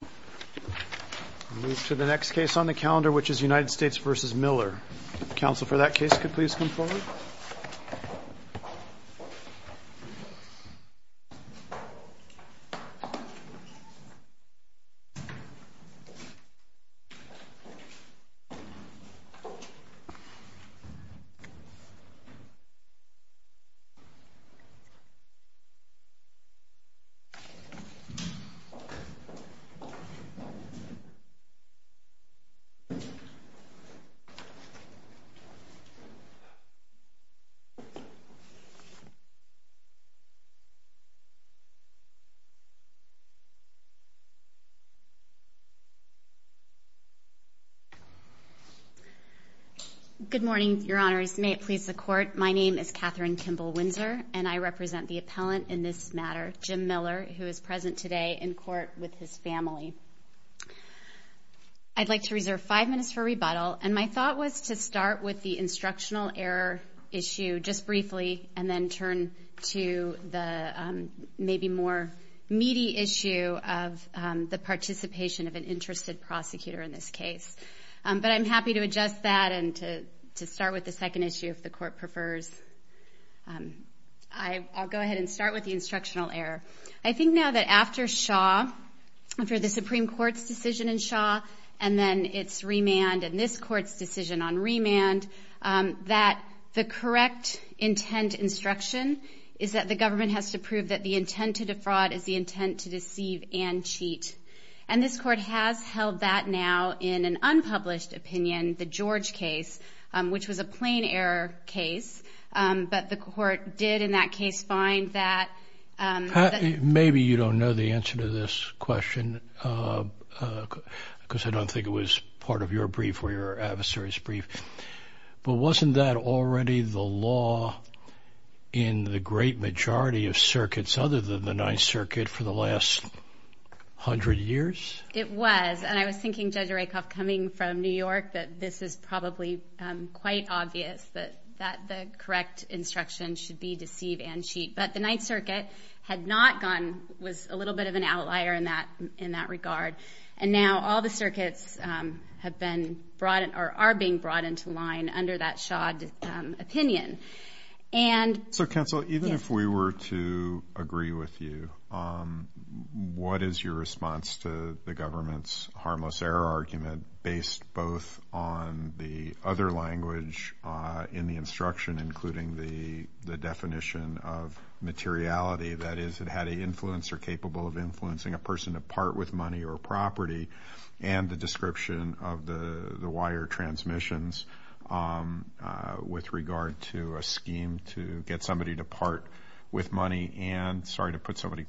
We move to the next case on the calendar, which is United States v. Miller. Counsel for that case could please come forward. Katherine Kimball-Windsor Good morning, Your Honors. May it please the Court, my name is Katherine Kimball-Windsor, and I represent the appellant in this matter, Jim Miller, who is present today in court with his family. I'd like to reserve five minutes for rebuttal, and my thought was to start with the instructional error issue just briefly, and then turn to the maybe more meaty issue of the participation of an interested prosecutor in this case, but I'm happy to adjust that and to start with the second issue if the Court prefers. I'll go ahead and start with the instructional error. I think now that after Shaw, after the Supreme Court's decision in Shaw, and then its remand and this Court's decision on remand, that the correct intent instruction is that the government has to prove that the intent to defraud is the intent to deceive and cheat. And this Court has held that now in an unpublished opinion, the George case, which was a plain error case, but the Court did in that case find that... Maybe you don't know the answer to this question, because I don't think it was part of your brief or your adversary's brief, but wasn't that already the law in the great majority of circuits other than the Ninth Circuit for the last hundred years? It was. And I was thinking, Judge Rakoff, coming from New York, that this is probably quite obvious that the correct instruction should be deceive and cheat, but the Ninth Circuit had not gone, was a little bit of an outlier in that regard. And now all the circuits have been brought, or are being brought into line under that Shaw opinion. So counsel, even if we were to agree with you, what is your response to the government's harmless error argument based both on the other language in the instruction, including the definition of materiality, that is, it had an influence or capable of influencing a person to part with money or property, and the description of the wire transmissions with regard to a scheme to get somebody to part with money and, sorry to put so many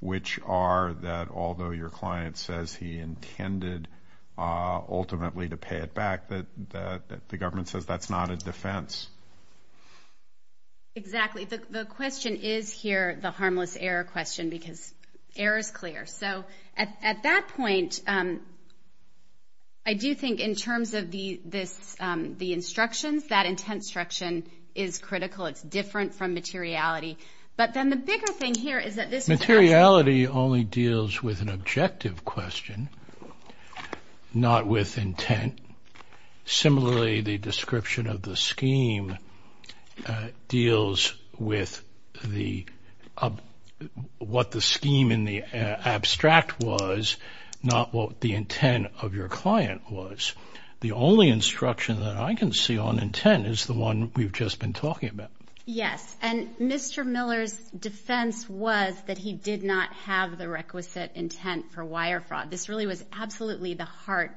which are that although your client says he intended ultimately to pay it back, that the government says that's not a defense. Exactly. The question is here, the harmless error question, because error is clear. So at that point, I do think in terms of the instructions, that intent instruction is critical. It's different from materiality. But then the bigger thing here is that this is actually... Materiality only deals with an objective question, not with intent. Similarly, the description of the scheme deals with what the scheme in the abstract was, not what the intent of your client was. The only instruction that I can see on intent is the one we've just been talking about. Yes. And Mr. Miller's defense was that he did not have the requisite intent for wire fraud. This really was absolutely the heart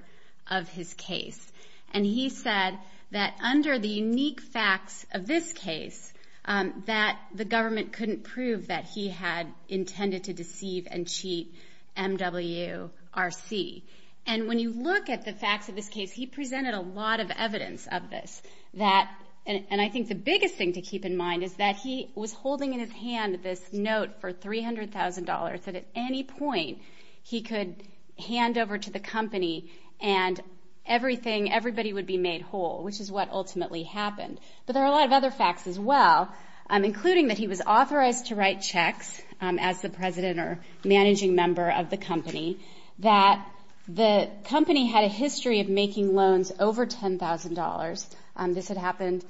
of his case. And he said that under the unique facts of this case, that the government couldn't prove that he had intended to deceive and cheat MWRC. And when you look at the facts of this case, he presented a lot of evidence of this. And I think the biggest thing to keep in mind is that he was holding in his hand this note for $300,000 that at any point he could hand over to the company and everybody would be made whole, which is what ultimately happened. But there are a lot of other facts as well, including that he was authorized to write checks as the president or managing member of the company, that the company had a history of making loans over $10,000. This had happened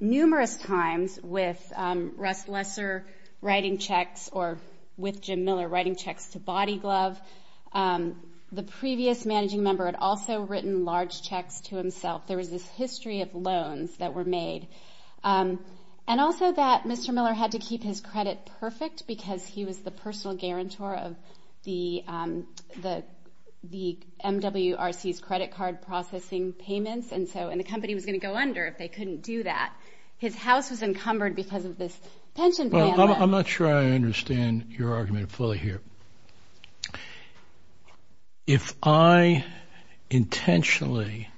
numerous times with Russ Lesser writing checks or with Jim Miller writing checks to Body Glove. The previous managing member had also written large checks to himself. There was this history of loans that were made. And also that Mr. Miller had to keep his credit perfect because he was the personal guarantor of the MWRC's credit card processing payments. And so the company was going to go under if they couldn't do that. His house was encumbered because of this pension plan. Well, I'm not sure I understand your argument fully here. If I intentionally,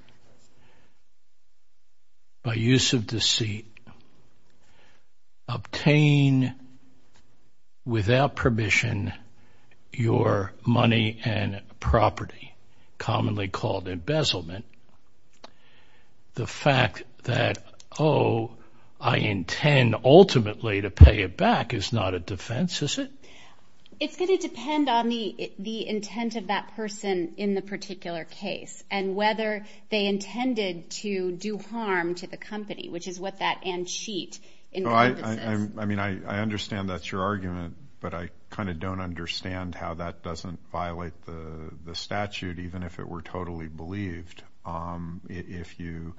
by use of deceit, obtain without permission your money and property, commonly called embezzlement, the fact that, oh, I intend ultimately to pay it back is not a defense, is it? It's going to depend on the intent of that person in the particular case and whether they intended to do harm to the company, which is what that and cheat encompasses. I mean, I understand that's your argument, but I kind of don't understand how that doesn't violate the statute, even if it were totally believed. If you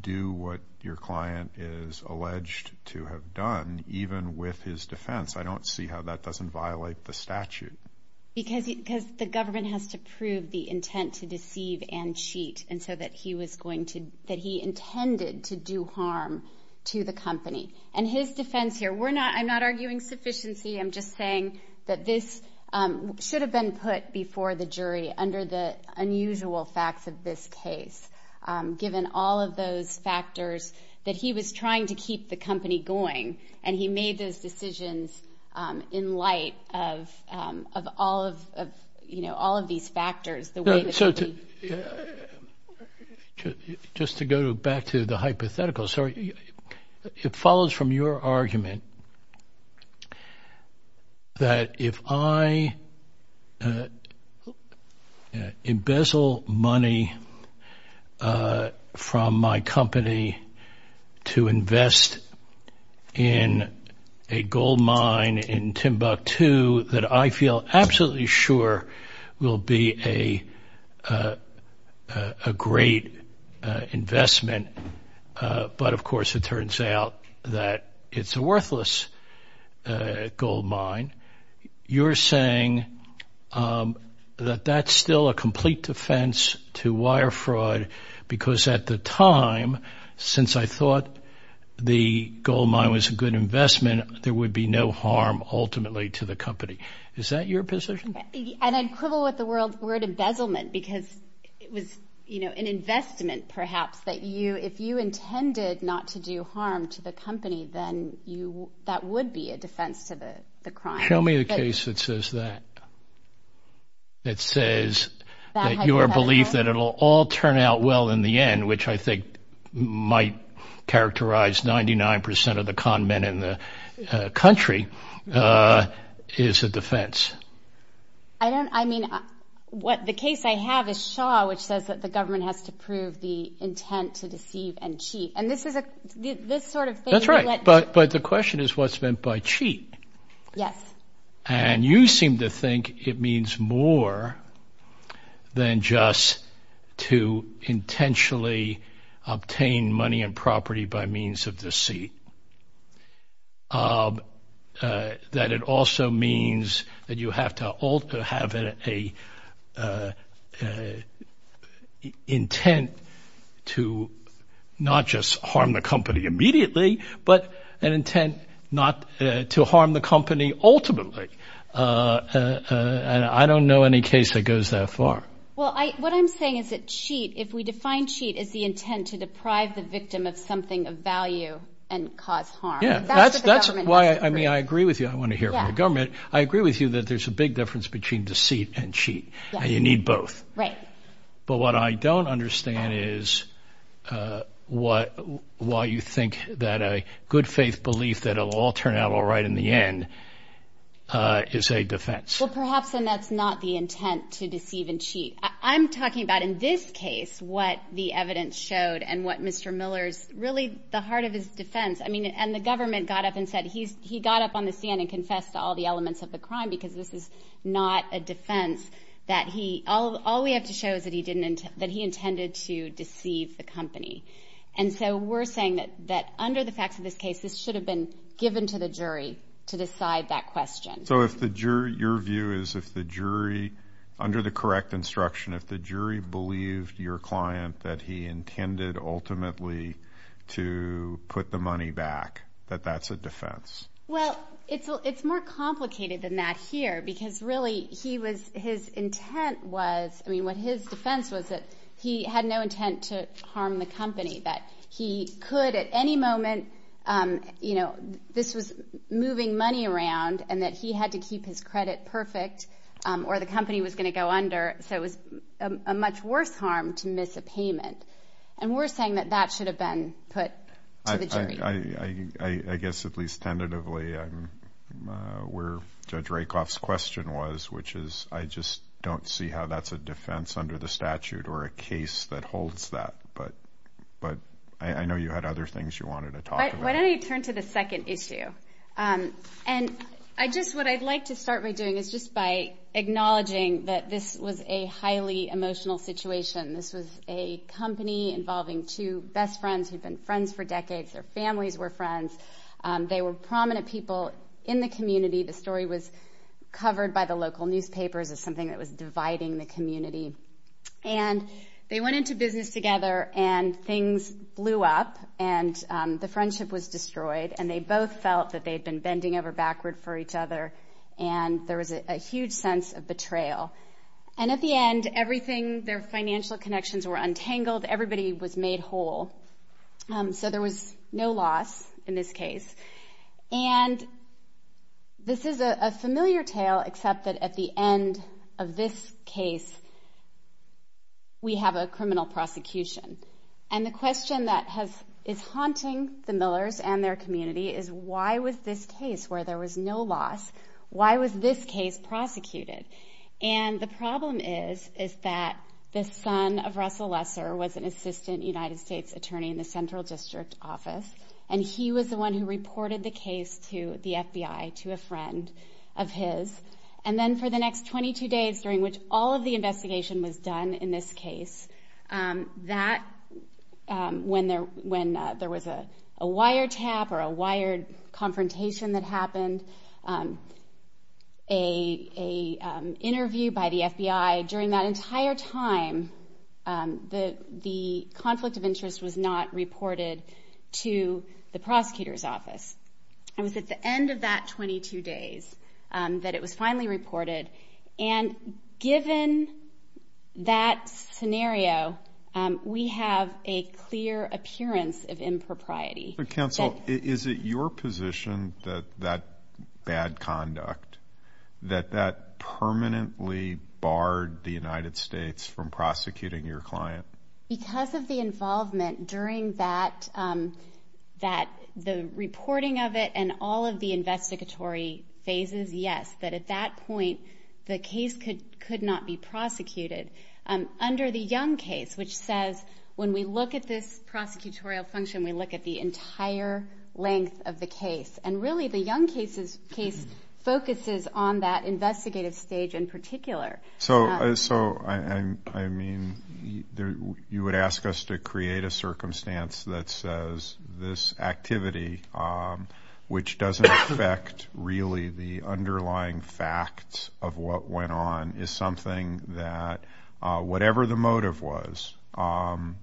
do what your client is alleged to have done, even with his defense, I don't see that doesn't violate the statute. Because the government has to prove the intent to deceive and cheat, and so that he was going to, that he intended to do harm to the company. And his defense here, we're not, I'm not arguing sufficiency, I'm just saying that this should have been put before the jury under the unusual facts of this case, given all of those factors that he was trying to keep the company going. And he made those decisions in light of all of, you know, all of these factors. Just to go back to the hypothetical, sorry, it follows from your argument that if I embezzle money from my company to invest in a gold mine in Timbuktu that I feel absolutely sure will be a great investment, but of course it turns out that it's a worthless gold mine, you're saying that that's still a complete defense to wire fraud, because at the time, since I thought the gold mine was a good investment, there would be no harm ultimately to the company. Is that your position? And I'd quibble with the word embezzlement, because it was, you know, an investment perhaps that you, if you intended not to do harm to the company, then you, that would be a defense to the crime. Show me a case that says that. That says that your belief that it will all turn out well in the end, which I think might characterize 99% of the con men in the country, is a defense. I don't, I mean, what the case I have is Shaw, which says that the government has to prove the intent to deceive and cheat. And this is a, this sort of thing. Right, but the question is what's meant by cheat. Yes. And you seem to think it means more than just to intentionally obtain money and property by means of deceit. That it also means that you have to have an intent to not just harm the company immediately, but an intent not to harm the company ultimately. And I don't know any case that goes that far. Well, I, what I'm saying is that cheat, if we define cheat as the intent to deprive the victim of something of value and cause harm. Yeah, that's why, I mean, I agree with you. I want to hear from the government. I agree with you that there's a big difference between deceit and cheat, and you need both. Right. But what I don't understand is why you think that a good faith belief that it'll all turn out all right in the end is a defense. Well, perhaps then that's not the intent to deceive and cheat. I'm talking about in this case what the evidence showed and what Mr. Miller's, really the heart of his defense. I mean, and the government got up and said he's, he got up on the stand and confessed to all the elements of the crime because this is not a defense that he, all we have to show is that he didn't, that he intended to deceive the company. And so we're saying that under the facts of this case, this should have been given to the jury to decide that question. So if the jury, your view is if the jury, under the correct instruction, if the jury believed your client that he intended ultimately to put the money back, that that's a defense? Well, it's more complicated than that here because really he was, his intent was, I mean, what his defense was that he had no intent to harm the company, that he could at any moment, you know, this was moving money around and that he had to keep his credit perfect or the company was going to go under. So it was a much worse harm to miss a payment. And we're saying that that should have been put to the jury. I guess at least tentatively, I'm where Judge Rakoff's question was, which is, I just don't see how that's a defense under the statute or a case that holds that. But, but I know you had other things you wanted to talk about. Why don't I turn to the second issue? And I just, what I'd like to start by doing is just by acknowledging that this was a highly emotional situation. This was a company involving two best friends who'd been friends for decades. Their families were friends. They were prominent people in the community. The story was covered by the local newspapers as something that was dividing the community. And they went into business together and things blew up and the friendship was destroyed. And they both felt that they'd been bending over backward for each other. And there was a huge sense of betrayal. And at the end, everything, their family was made whole. So there was no loss in this case. And this is a familiar tale except that at the end of this case, we have a criminal prosecution. And the question that has, is haunting the Millers and their community is why was this case where there was no loss, why was this case prosecuted? And the problem is, is that the son of Russell Lesser was an assistant United States attorney in the central district office. And he was the one who reported the case to the FBI, to a friend of his. And then for the next 22 days during which all of the investigation was done in this case, when there was a wiretap or a wired confrontation that happened, a interview by the FBI, during that entire time, the FBI found that the conflict of interest was not reported to the prosecutor's office. It was at the end of that 22 days that it was finally reported. And given that scenario, we have a clear appearance of impropriety. But counsel, is it your position that that bad conduct, that that permanently barred the United States from prosecuting your client? Because of the involvement during that, that the reporting of it and all of the investigatory phases, yes. But at that point, the case could not be prosecuted. Under the Young case, which says when we look at this prosecutorial function, we look at the entire length of the case. And really the Young case focuses on that investigative stage in particular. So, I mean, you would ask us to create a circumstance that says this activity, which doesn't affect really the underlying facts of what went on, is something that whatever the motive was,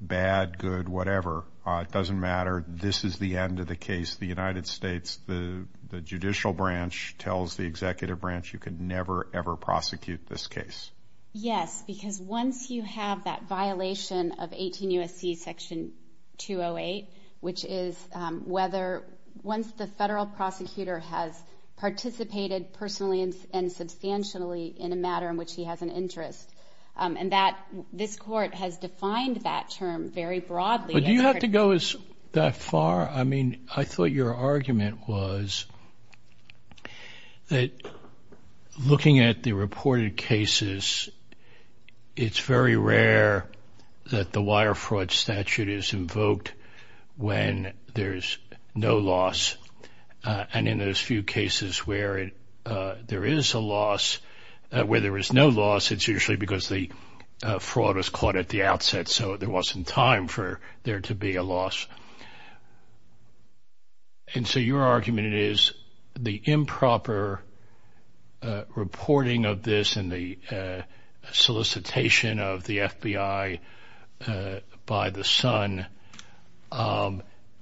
bad, good, whatever, it doesn't matter. This is the end of the case. The United States, the judicial branch tells the executive branch you can never, ever prosecute this case. Yes, because once you have that violation of 18 U.S.C. section 208, which is whether once the federal prosecutor has participated personally and substantially in a matter in which he has an interest, and that this court has defined that term very broadly. But do you have to go that far? I mean, I thought your argument was that looking at the reported cases, it's very rare that the wire fraud statute is invoked when there's no loss. And in those few cases where there is a loss, where there is no loss, it's usually because the fraud was caught at the outset, so there wasn't time for there to be a loss. And so your argument is the improper reporting of this and the solicitation of the FBI by the sun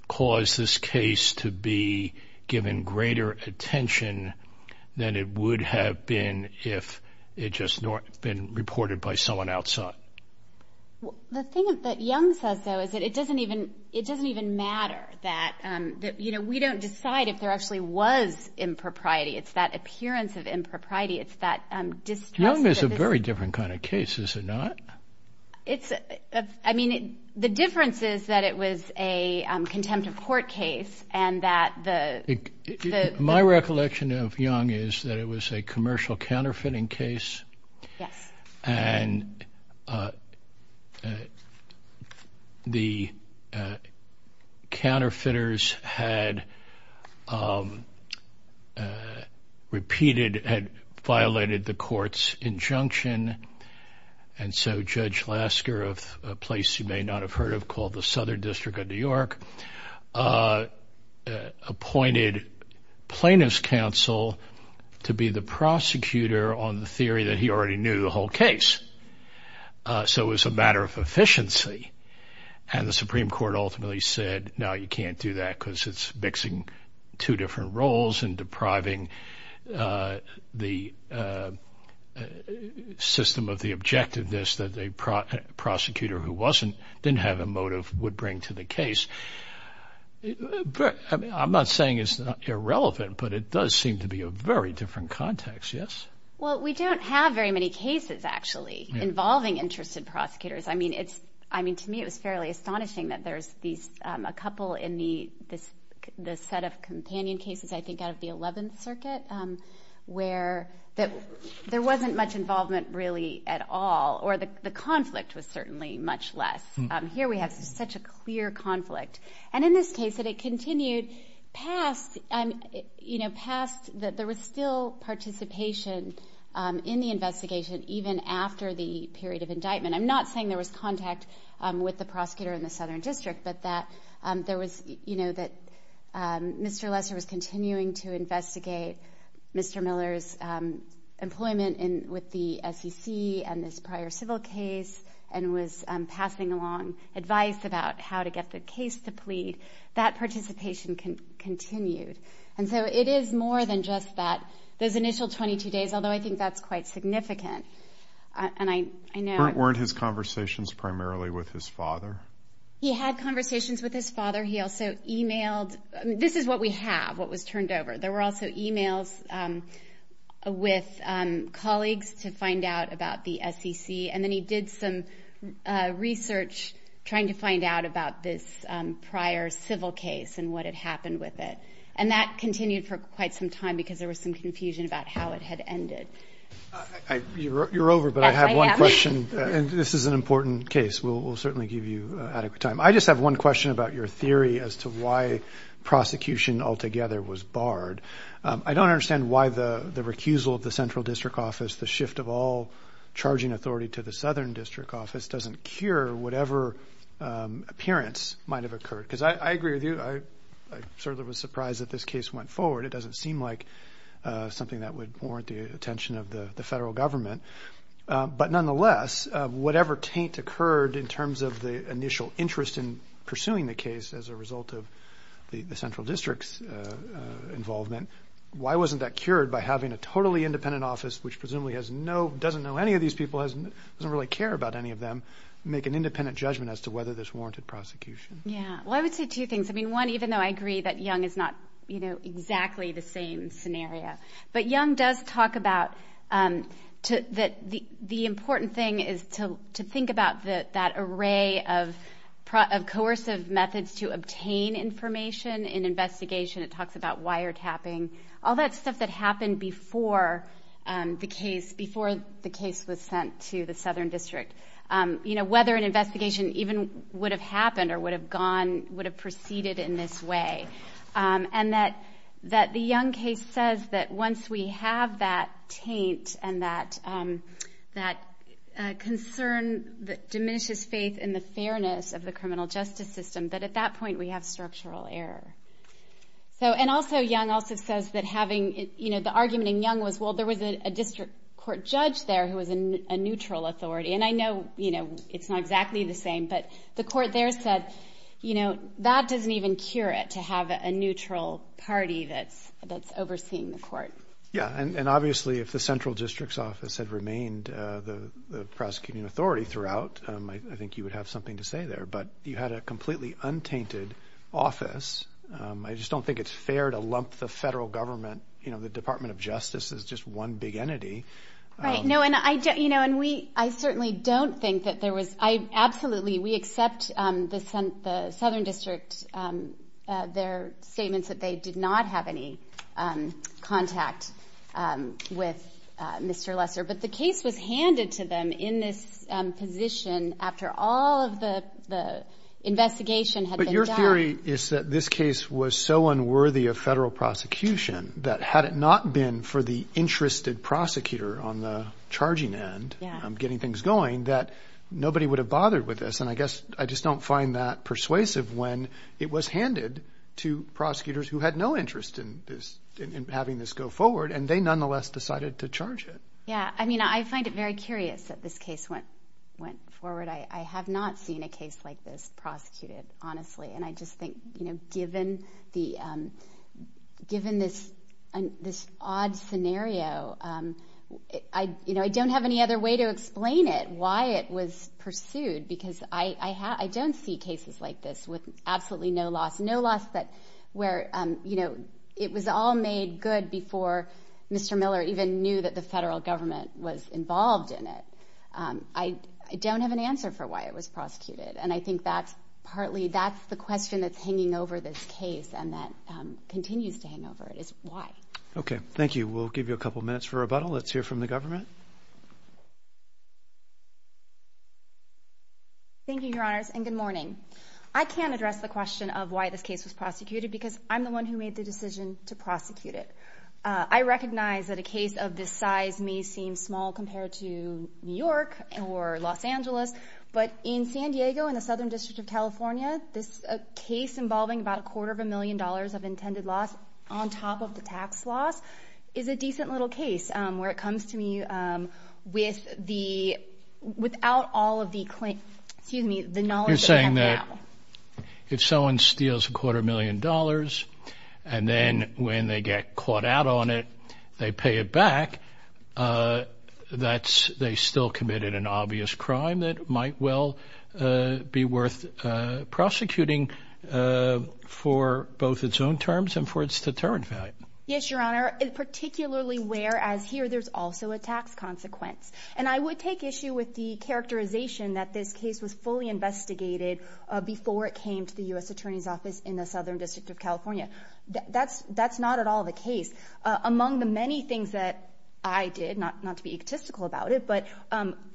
caused this case to be given greater attention than it would have been if it just been reported by someone outside. The thing that Young says, though, is that it doesn't even, it doesn't even matter that, you know, we don't decide if there actually was impropriety. It's that appearance of impropriety. It's that distrust. Young is a very different kind of case, is it not? It's, I mean, the difference is that it was a contempt of court case and that the... My recollection of Young is that it was a commercial counterfeiting case and the counterfeiters had repeated, had violated the court's injunction and so Judge Lasker of a place you may not have heard of called the Southern District of New York appointed plaintiff's counsel to be the prosecutor on the theory that he already knew the whole case. So it was a matter of efficiency and the Supreme Court ultimately said, no, you can't do that because it's mixing two different roles and depriving the system of the objectiveness that a prosecutor who wasn't, didn't have a motive would bring to the case. I'm not saying it's irrelevant, but it does seem to be a very different context, yes? Well, we don't have very many cases actually involving interested prosecutors. I mean, it's, I mean to me it was fairly astonishing that there's these, a couple in the, this set of companion cases I think out of the 11th Circuit where there wasn't much involvement really at all or the conflict was certainly much less. Here we have such a clear conflict. And in this case that it continued past, you know, past that there was still participation in the investigation even after the period of indictment. I'm not saying there was contact with the prosecutor in the Southern District, but that there was, you know, that Mr. Lesser was continuing to investigate Mr. Miller's employment in, with the SEC and this prior civil case and was passing along advice about how to get the case to plead. That participation continued. And so it is more than just that, those initial 22 days, although I think that's quite significant. And I, I know. Weren't his conversations primarily with his father? He had conversations with his father. He also emailed, this is what we have, what was turned over. There were also emails with colleagues to find out about the SEC. And then he did some research trying to find out about this prior civil case and what had happened with it. And that continued for quite some time because there was some confusion about how it had ended. You're over, but I have one question and this is an important case. We'll certainly give you adequate time. I just have one question about your theory as to why prosecution altogether was barred. I don't understand why the recusal of the Central District Office, the shift of all charging authority to the Southern District Office doesn't cure whatever appearance might have occurred. Because I agree with you. I certainly was surprised that this case went forward. It doesn't seem like something that would warrant the attention of the federal government. But nonetheless, whatever taint occurred in terms of the initial interest in pursuing the case as a result of the Central District's involvement, why wasn't that cured by having a totally independent office, which presumably has no, doesn't know any of these people, doesn't really care about any of them, make an independent judgment as to whether this warranted prosecution? Yeah. Well, I would say two things. I mean, one, even though I agree that Young is not, you know, exactly the same scenario. But Young does talk about that the important thing is to think about that array of coercive methods to obtain information in investigation. It talks about wiretapping. All that stuff that happened before the case, before the case was sent to the Southern District. You know, whether an investigation even would have happened or would have gone, would have proceeded in this way. And that the Young case says that once we have that taint and that concern that diminishes faith in the fairness of the criminal justice system, that at that point we have structural error. And also, Young also says that having, you know, the argument in Young was, well, there was a district court judge there who was a neutral authority. And I know, you know, it's not exactly the same, but the court there said, you know, that doesn't even cure it to have a neutral party that's overseeing the court. Yeah. And obviously if the Central District's Office had remained the prosecuting authority throughout, I think you would have something to say there. But you had a completely untainted office. I just don't think it's fair to lump the federal government, you know, the Department of Justice as just one big entity. Right. No, and I don't, you know, and we, I certainly don't think that there was, I absolutely, we accept the Southern District, their statements that they did not have any contact with Mr. Lesser. But the case was handed to them in this position after all of the investigation had been done. But your theory is that this case was so unworthy of federal prosecution that had it not been for the interested prosecutor on the charging end, getting things going, that nobody would have bothered with this. And I guess I just don't find that persuasive when it was handed to prosecutors who had no interest in this, in having this go forward, and they nonetheless decided to charge it. Yeah. I mean, I find it very curious that this case went forward. I have not seen a case like this prosecuted, honestly. And I just think, you know, given the, given this odd scenario, I, you know, I don't have any other way to explain it, why it was pursued. Because I don't see cases like this with absolutely no loss. No loss that, where, you know, it was all made good before Mr. Miller even knew that the federal government was involved in it. I don't have an answer for why it was prosecuted. And I think that's partly, that's the question that's hanging over this case, and that continues to hang over it, is why. Okay. Thank you. We'll give you a couple minutes for rebuttal. Let's hear from the government. Thank you, Your Honors, and good morning. I can't address the question of why this case was prosecuted, because I'm the one who made the decision to prosecute it. I recognize that a case of this size may seem small compared to New York or Los Angeles, but in San Diego in the Southern District of California, this case involving about a quarter of a million dollars of intended loss on top of the tax loss is a decent little case, where it comes to me with the, without all of the, excuse me, the knowledge that we have now. You're saying that if someone steals a quarter million dollars, and then when they get caught out on it, they pay it back, that's, they still committed an obvious crime that might well be worth prosecuting for both its own terms and for its deterrent value. Yes, Your Honor, particularly where, as here, there's also a tax consequence. And I would take issue with the characterization that this case was fully investigated before it came to the U.S. Attorney's Office in the Southern District of California. That's not at all the case. Among the many things that I did, not to be egotistical about it, but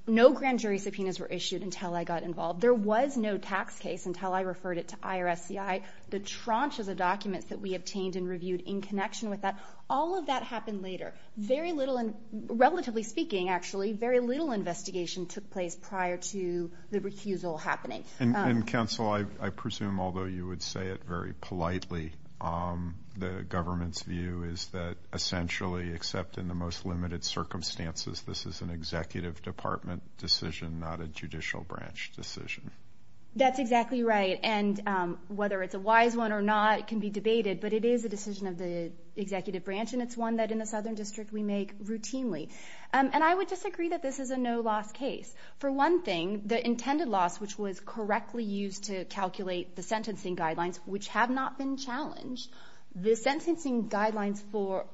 no grand jury subpoenas were issued until I got involved. There was no tax case until I referred it to IRSCI. The tranches of documents that we obtained and reviewed in connection with that, all of that happened later. Very little, relatively speaking, actually, very little investigation took place prior to the refusal happening. And Counsel, I presume, although you would say it very politely, the government's view is that essentially, except in the most limited circumstances, this is an Executive Department decision, not a Judicial Branch decision. That's exactly right. And whether it's a wise one or not can be debated, but it is a decision of the Executive Branch, and it's one that in the Southern District we make routinely. And I would disagree that this is a no-loss case. For one thing, the intended loss, which was correctly used to calculate the sentencing guidelines, which have not been challenged, the sentencing guidelines for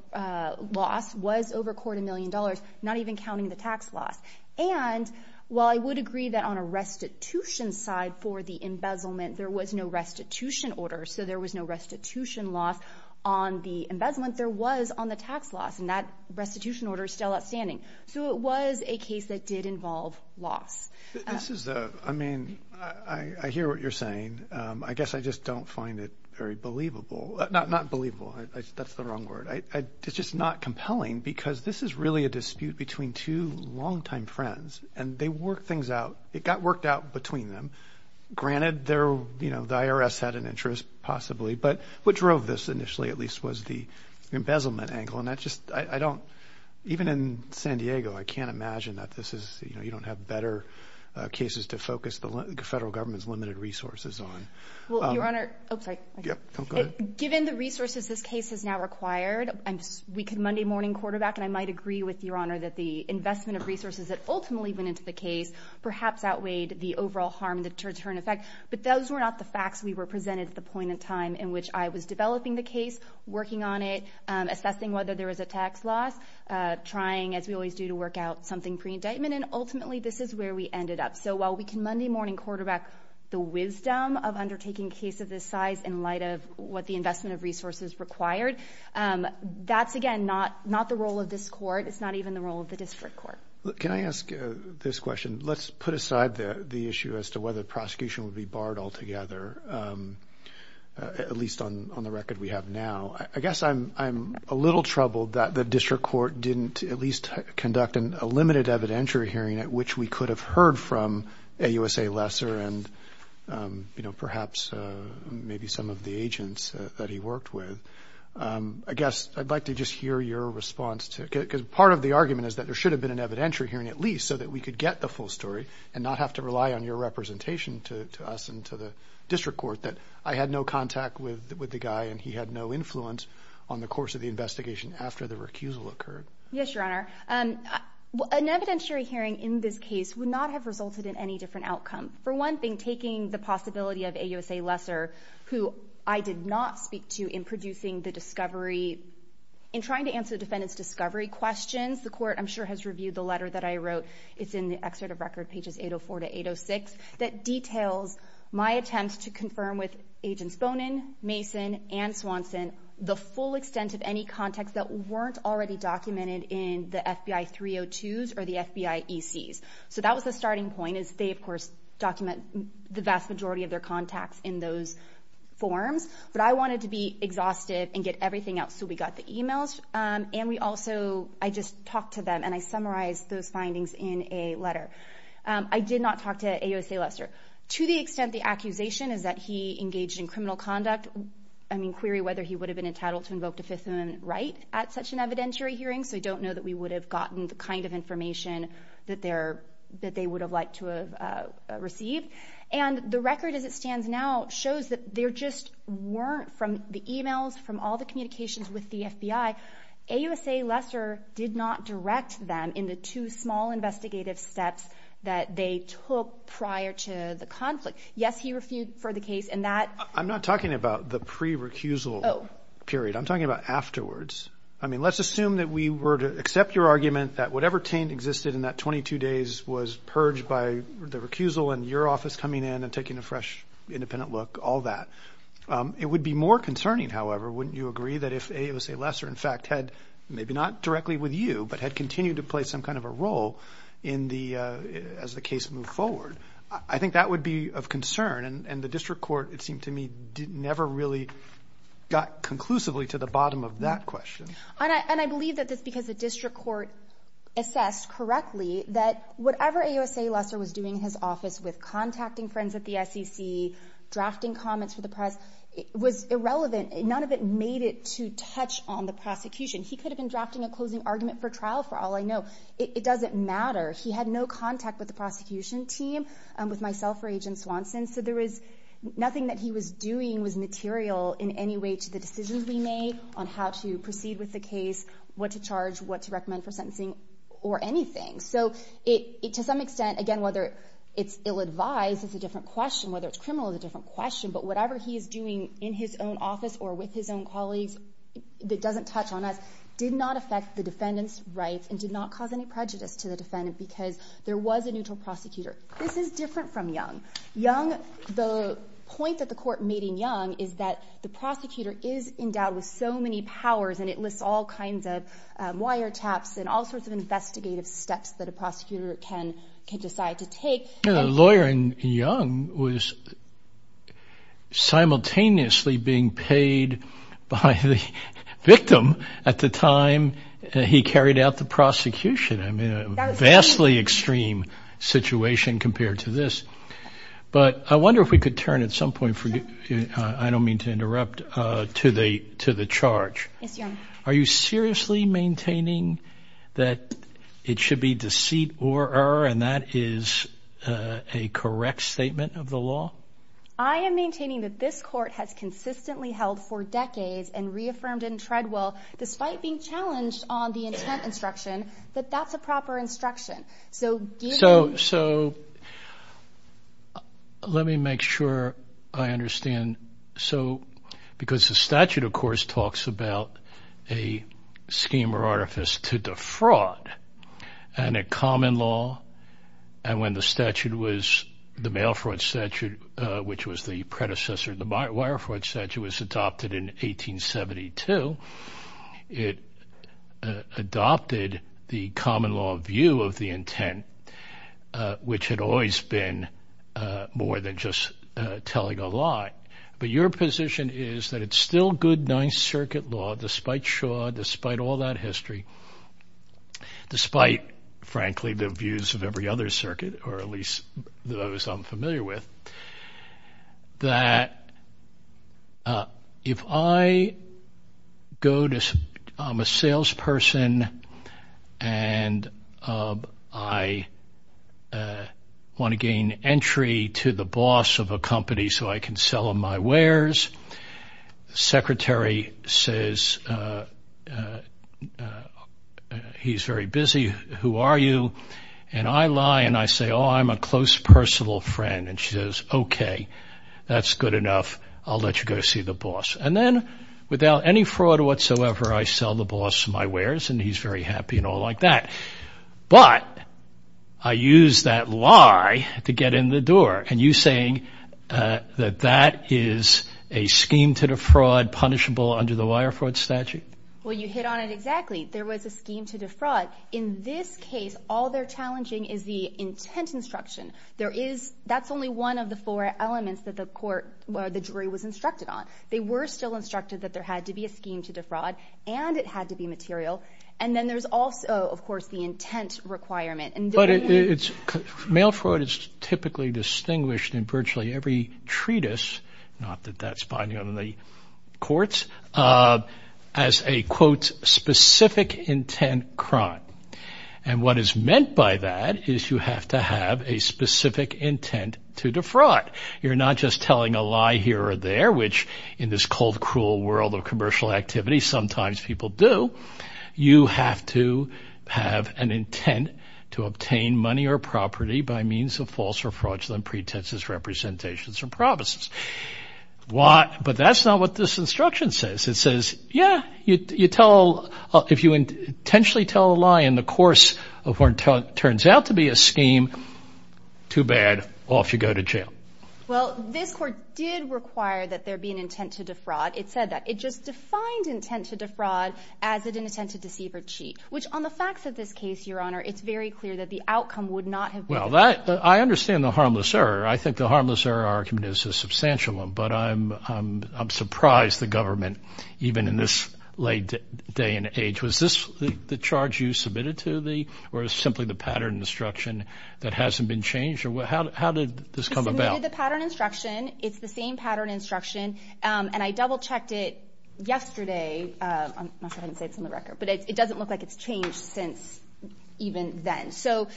loss was over a quarter million dollars, not even counting the tax loss. And while I would agree that on a restitution side for the embezzlement, there was no restitution order, so there was no restitution loss on the embezzlement, there was on the tax loss, and that restitution order is still outstanding. So it was a case that did involve loss. This is a, I mean, I hear what you're saying. I guess I just don't find it very believable. Not believable, that's the wrong word. It's just not compelling because this is really a dispute between two longtime friends, and they worked things out. It got worked out between them. Granted, the IRS had an interest, possibly, but what drove this initially at least was the embezzlement angle, and that just, I don't, even in San Diego, I can't imagine that this is, you know, you don't have better cases to focus the federal government's limited resources on. Well, Your Honor, oh, sorry. Given the resources this case has now required, we could Monday morning quarterback, and I might agree with Your Honor that the investment of resources that ultimately went into the case perhaps outweighed the overall harm, the deterrent effect, but those were not the facts we were presented at the point in time in which I was developing the case, working on it, assessing whether there was a tax loss, trying, as we always do to work out something pre-indictment, and ultimately, this is where we ended up. So while we can Monday morning quarterback the wisdom of undertaking a case of this size in light of what the investment of resources required, that's, again, not the role of this Court. It's not even the role of the District Court. Can I ask this question? Let's put aside the issue as to whether the prosecution would be barred altogether, at least on the record we have now. I guess I'm a little troubled that the District Court didn't at least conduct a limited evidentiary hearing at which we could have heard from AUSA Lesser and, you know, perhaps maybe some of the agents that he worked with. I guess I'd like to just hear your response to it, because part of the argument is that there should have been an evidentiary hearing at least so that we could get the full story and not have to rely on your representation to us and to the District Court, that I had no contact with the guy and he had no influence on the course of the investigation after the recusal occurred. Yes, Your Honor. An evidentiary hearing in this case would not have resulted in any different outcome. For one thing, taking the possibility of AUSA Lesser, who I did not speak to in producing the discovery, in trying to answer the defendant's discovery questions, the Court, I'm sure, has reviewed the letter that I wrote. It's in the Excerpt of Record, pages 804-806, that details my attempts to confirm with Agents Bonin, Mason, and Swanson the full extent of any contacts that weren't already documented in the FBI 302s or the FBI ECs. So that was the starting point, is they, of course, document the vast majority of their contacts in those forms. But I wanted to be exhaustive and get everything else, so we got the emails and we also, I just talked to them and I summarized those findings in a letter. I did not talk to AUSA Lesser. To the extent the accusation is that he engaged in criminal conduct, I mean query whether he would have been entitled to invoke the Fifth Amendment right at such an evidentiary hearing, so I don't know that we would have gotten the kind of information that they would have liked to have received. And the record as it stands now shows that there just weren't, from the emails, from all the communications with the FBI, AUSA Lesser did not direct them in the two small investigative steps that they took prior to the conflict. Yes, he refuted for the case and that... I'm not talking about the pre-recusal period. I'm talking about afterwards. I mean, let's assume that we were to accept your argument that whatever taint existed in that 22 days was purged by the recusal and your office coming in and taking a fresh independent look, all that. It would be more concerning, however, wouldn't you agree, that if AUSA Lesser in fact, not directly with you, but had continued to play some kind of a role in the, as the case moved forward, I think that would be of concern. And the district court, it seemed to me, never really got conclusively to the bottom of that question. And I believe that that's because the district court assessed correctly that whatever AUSA Lesser was doing in his office with contacting friends at the SEC, drafting comments for the press, was irrelevant. None of it made it to touch on the prosecution. He could have been drafting a closing argument for trial, for all I know. It doesn't matter. He had no contact with the prosecution team, with myself or Agent Swanson, so there was nothing that he was doing was material in any way to the decisions we made on how to proceed with the case, what to charge, what to recommend for sentencing, or anything. So to some extent, again, whether it's ill-advised is a different question, whether it's criminal is a different question, but whatever he is doing in his own office or with his own colleagues that doesn't touch on us did not affect the defendant's rights and did not cause any prejudice to the defendant because there was a neutral prosecutor. This is different from Young. Young, the point that the court made in Young is that the prosecutor is endowed with so many powers and it lists all kinds of wiretaps and all sorts of investigative steps that a prosecutor can decide to take. The lawyer in Young was simultaneously being paid by the victim at the time he carried out the prosecution. I mean, a vastly extreme situation compared to this. But I wonder if we could turn at some point, I don't mean to interrupt, to the charge. Are you seriously maintaining that it should be deceit or error and that is a correct statement of the law? I am maintaining that this court has consistently held for decades and reaffirmed it in Treadwell despite being challenged on the intent instruction that that's a proper instruction. So let me make sure I understand. So because the statute, of course, talks about that the a scheme or artifice to defraud and a common law and when the statute was, the mail fraud statute, which was the predecessor of the wire fraud statute, was adopted in 1872, it adopted the common law view of the intent, which had always been more than just telling a lie. But your position is that it's still good Ninth Circuit law, despite Shaw, despite all that history, despite, frankly, the views of every other circuit or at least those I'm familiar with, that if I go to, I'm a salesperson and I want to gain entry to the boss of a company, I can sell him my wares. The secretary says he's very busy. Who are you? And I lie and I say, oh, I'm a close personal friend. And she says, okay, that's good enough. I'll let you go see the boss. And then without any fraud whatsoever, I sell the boss my wares and he's very happy and all like that. But I use that lie to get in the door and you're saying that that is a scheme to defraud punishable under the wire fraud statute? Well, you hit on it exactly. There was a scheme to defraud. In this case, all they're challenging is the intent instruction. That's only one of the four elements that the jury was instructed on. They were still instructed that there had to be a scheme to defraud and it had to be material. And then there's also, of course, the intent requirement. But mail fraud is typically distinguished in virtually every treatise, not that that's binding on the courts, as a, quote, specific intent crime. And what is meant by that is you have to have a specific intent to defraud. You're not just telling a lie here or there, which in this cold, cruel world of commercial activity, sometimes people do. You have to have an intent to obtain money or property by means of false or fraudulent pretenses, representations, or promises. But that's not what this instruction says. It says, yeah, you tell, if you intentionally tell a lie in the course of what turns out to be a scheme, too bad, off you go to jail. Well, this court did require that there be an intent to defraud. It said that. It just in the context of this case, your honor, it's very clear that the outcome would not have been the same. I understand the harmless error. I think the harmless error argument is a substantial one. But I'm surprised the government, even in this late day and age, was this the charge you submitted to the, or is it simply the pattern instruction that hasn't been changed? How did this come about? We submitted the pattern instruction. It's the same pattern instruction. And I double checked it yesterday. I'm not sure if I can say it's in the record. But it doesn't look like it's changed since even then.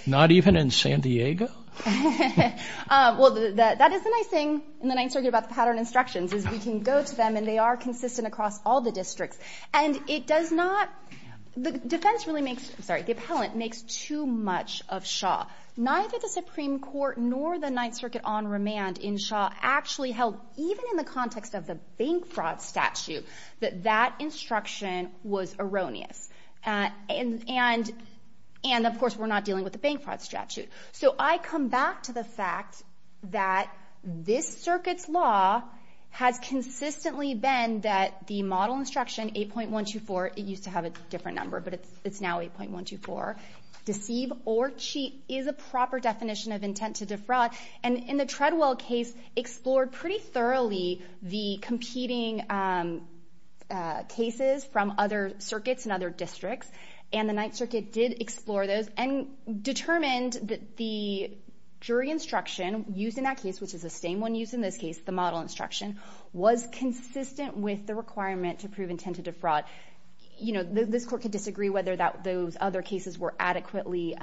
Not even in San Diego? Well, that is the nice thing in the Ninth Circuit about the pattern instructions, is we can go to them and they are consistent across all the districts. And it does not, the defense really makes, I'm sorry, the appellant makes too much of Shaw. Neither the Supreme Court nor the Ninth Circuit on remand in Shaw actually held, even in the context of the bank fraud statute, that that instruction was erroneous. And, of course, we're not dealing with the bank fraud statute. So I come back to the fact that this Circuit's law has consistently been that the model instruction 8.124, it used to have a different number, but it's now 8.124, deceive or cheat is a proper definition of intent to defraud. And in the Treadwell case, explored pretty thoroughly the competing cases from other circuits and other districts. And the Ninth Circuit did explore those and determined that the jury instruction used in that case, which is the same one used in this case, the model instruction, was consistent with the requirement to prove intent to defraud. You know, this Court can disagree whether those other cases were adequately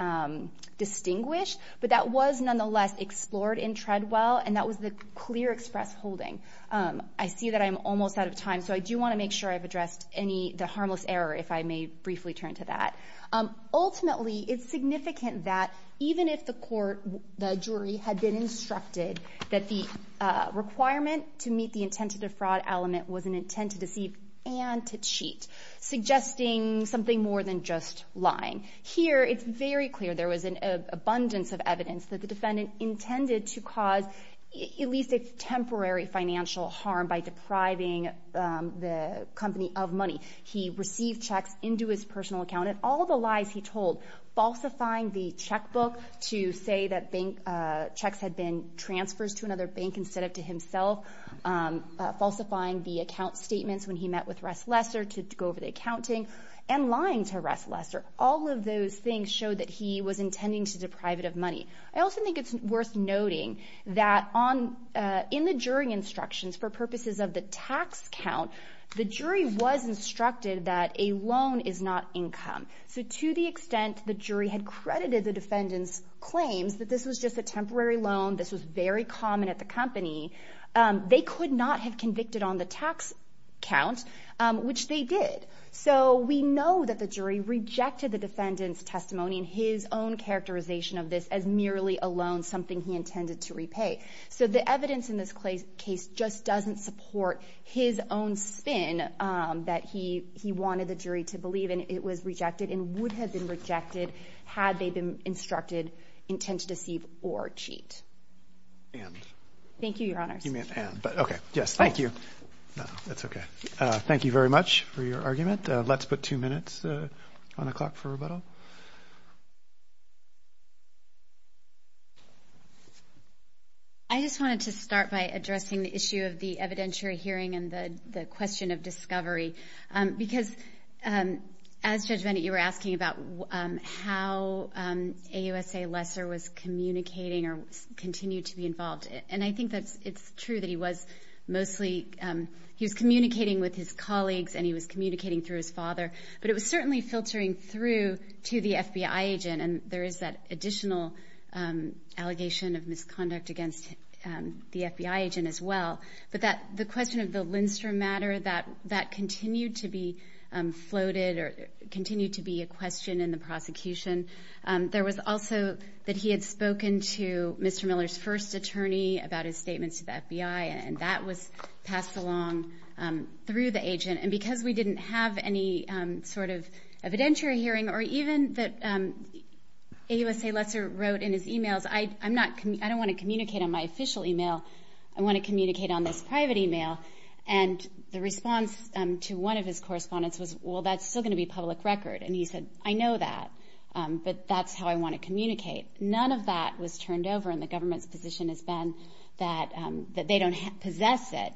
distinguished, but that was nonetheless explored in Treadwell, and that was the clear express holding. I see that I'm almost out of time, so I do want to make sure I've addressed any the harmless error, if I may briefly turn to that. Ultimately, it's significant that even if the court, the jury, had been instructed that the requirement to meet the intent to defraud element was an intent to deceive and to cheat, suggesting something more than just lying. Here, it's very clear there was an abundance of evidence that the defendant intended to cause at least a temporary financial harm by depriving the company of money. He received checks into his personal account and all the lies he told, falsifying the checkbook to say that checks had been transfers to another bank instead of to himself, falsifying the account statements when he met with Ress Lester to go over the accounting, and lying to Ress Lester. All of those things showed that he was intending to deprive it of money. I also think it's worth noting that in the jury instructions, for purposes of the tax count, the jury was instructed that a loan is not income. To the extent the jury had credited the defendant's claims that this was just a temporary loan, this was very common at the company, they could not have convicted on the tax count, which they did. So we know that the jury rejected the defendant's testimony in his own characterization of this as merely a loan, something he intended to repay. So the evidence in this case just doesn't support his own spin that he wanted the jury to believe in. It was rejected and would have been rejected had they been instructed intent to deceive or cheat. Thank you, Your Honors. You may have to end, but okay. Yes, thank you. No, that's okay. Thank you very much for your argument. Let's put two minutes on the clock for rebuttal. I just wanted to start by addressing the issue of the evidentiary hearing and the question of discovery, because as Judge Bennett, you were asking about how AUSA Lester was communicating or continued to be involved. And I think it's true that he was mostly, he was communicating with his colleagues and he was communicating through his father, but it was certainly filtering through to the FBI agent. And there is that additional allegation of misconduct against the FBI agent as well. But the question of the Lindstrom matter, that continued to be floated or continued to be a question in the prosecution. There was also that he had spoken to Mr. Miller's first attorney about his statements to the FBI, and that was passed along through the agent. And because we didn't have any sort of evidentiary hearing or even that AUSA Lester wrote in his emails, I don't want to communicate on my official email. I want to communicate on this private email. And the response to one of his correspondence was, well, that's still going to be public record. And he said, I know that, but that's how I want to communicate. None of that was turned over and the government's position has been that they don't possess it.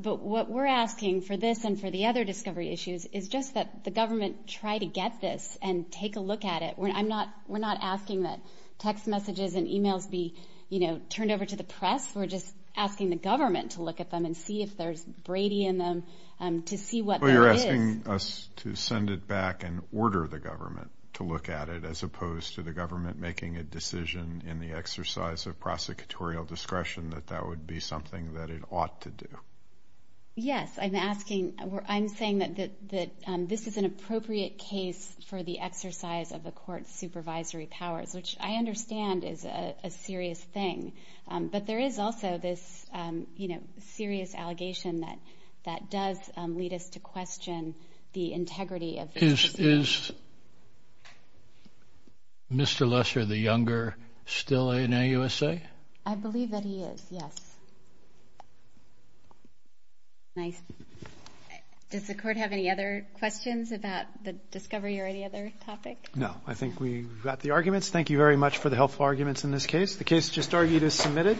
But what we're asking for this and for the other discovery issues is just that the government try to get this and take a look at it. We're not asking that text messages and emails be turned over to the press. We're just asking the government to look at them and see if there's Brady in them to see what that is. So you're asking us to send it back and order the government to look at it as opposed to the government making a decision in the exercise of prosecutorial discretion that that would be something that it ought to do? Yes. I'm asking, I'm saying that this is an appropriate case for the exercise of the court's supervisory powers, which I understand is a serious thing. But there is also this serious allegation that that does lead us to question the integrity of this decision. Is Mr. Lester, the younger, still in AUSA? I believe that he is, yes. Does the court have any other questions about the discovery or any other topic? No. I think we've got the arguments. Thank you very much for the helpful arguments in this case. The case just argued is submitted.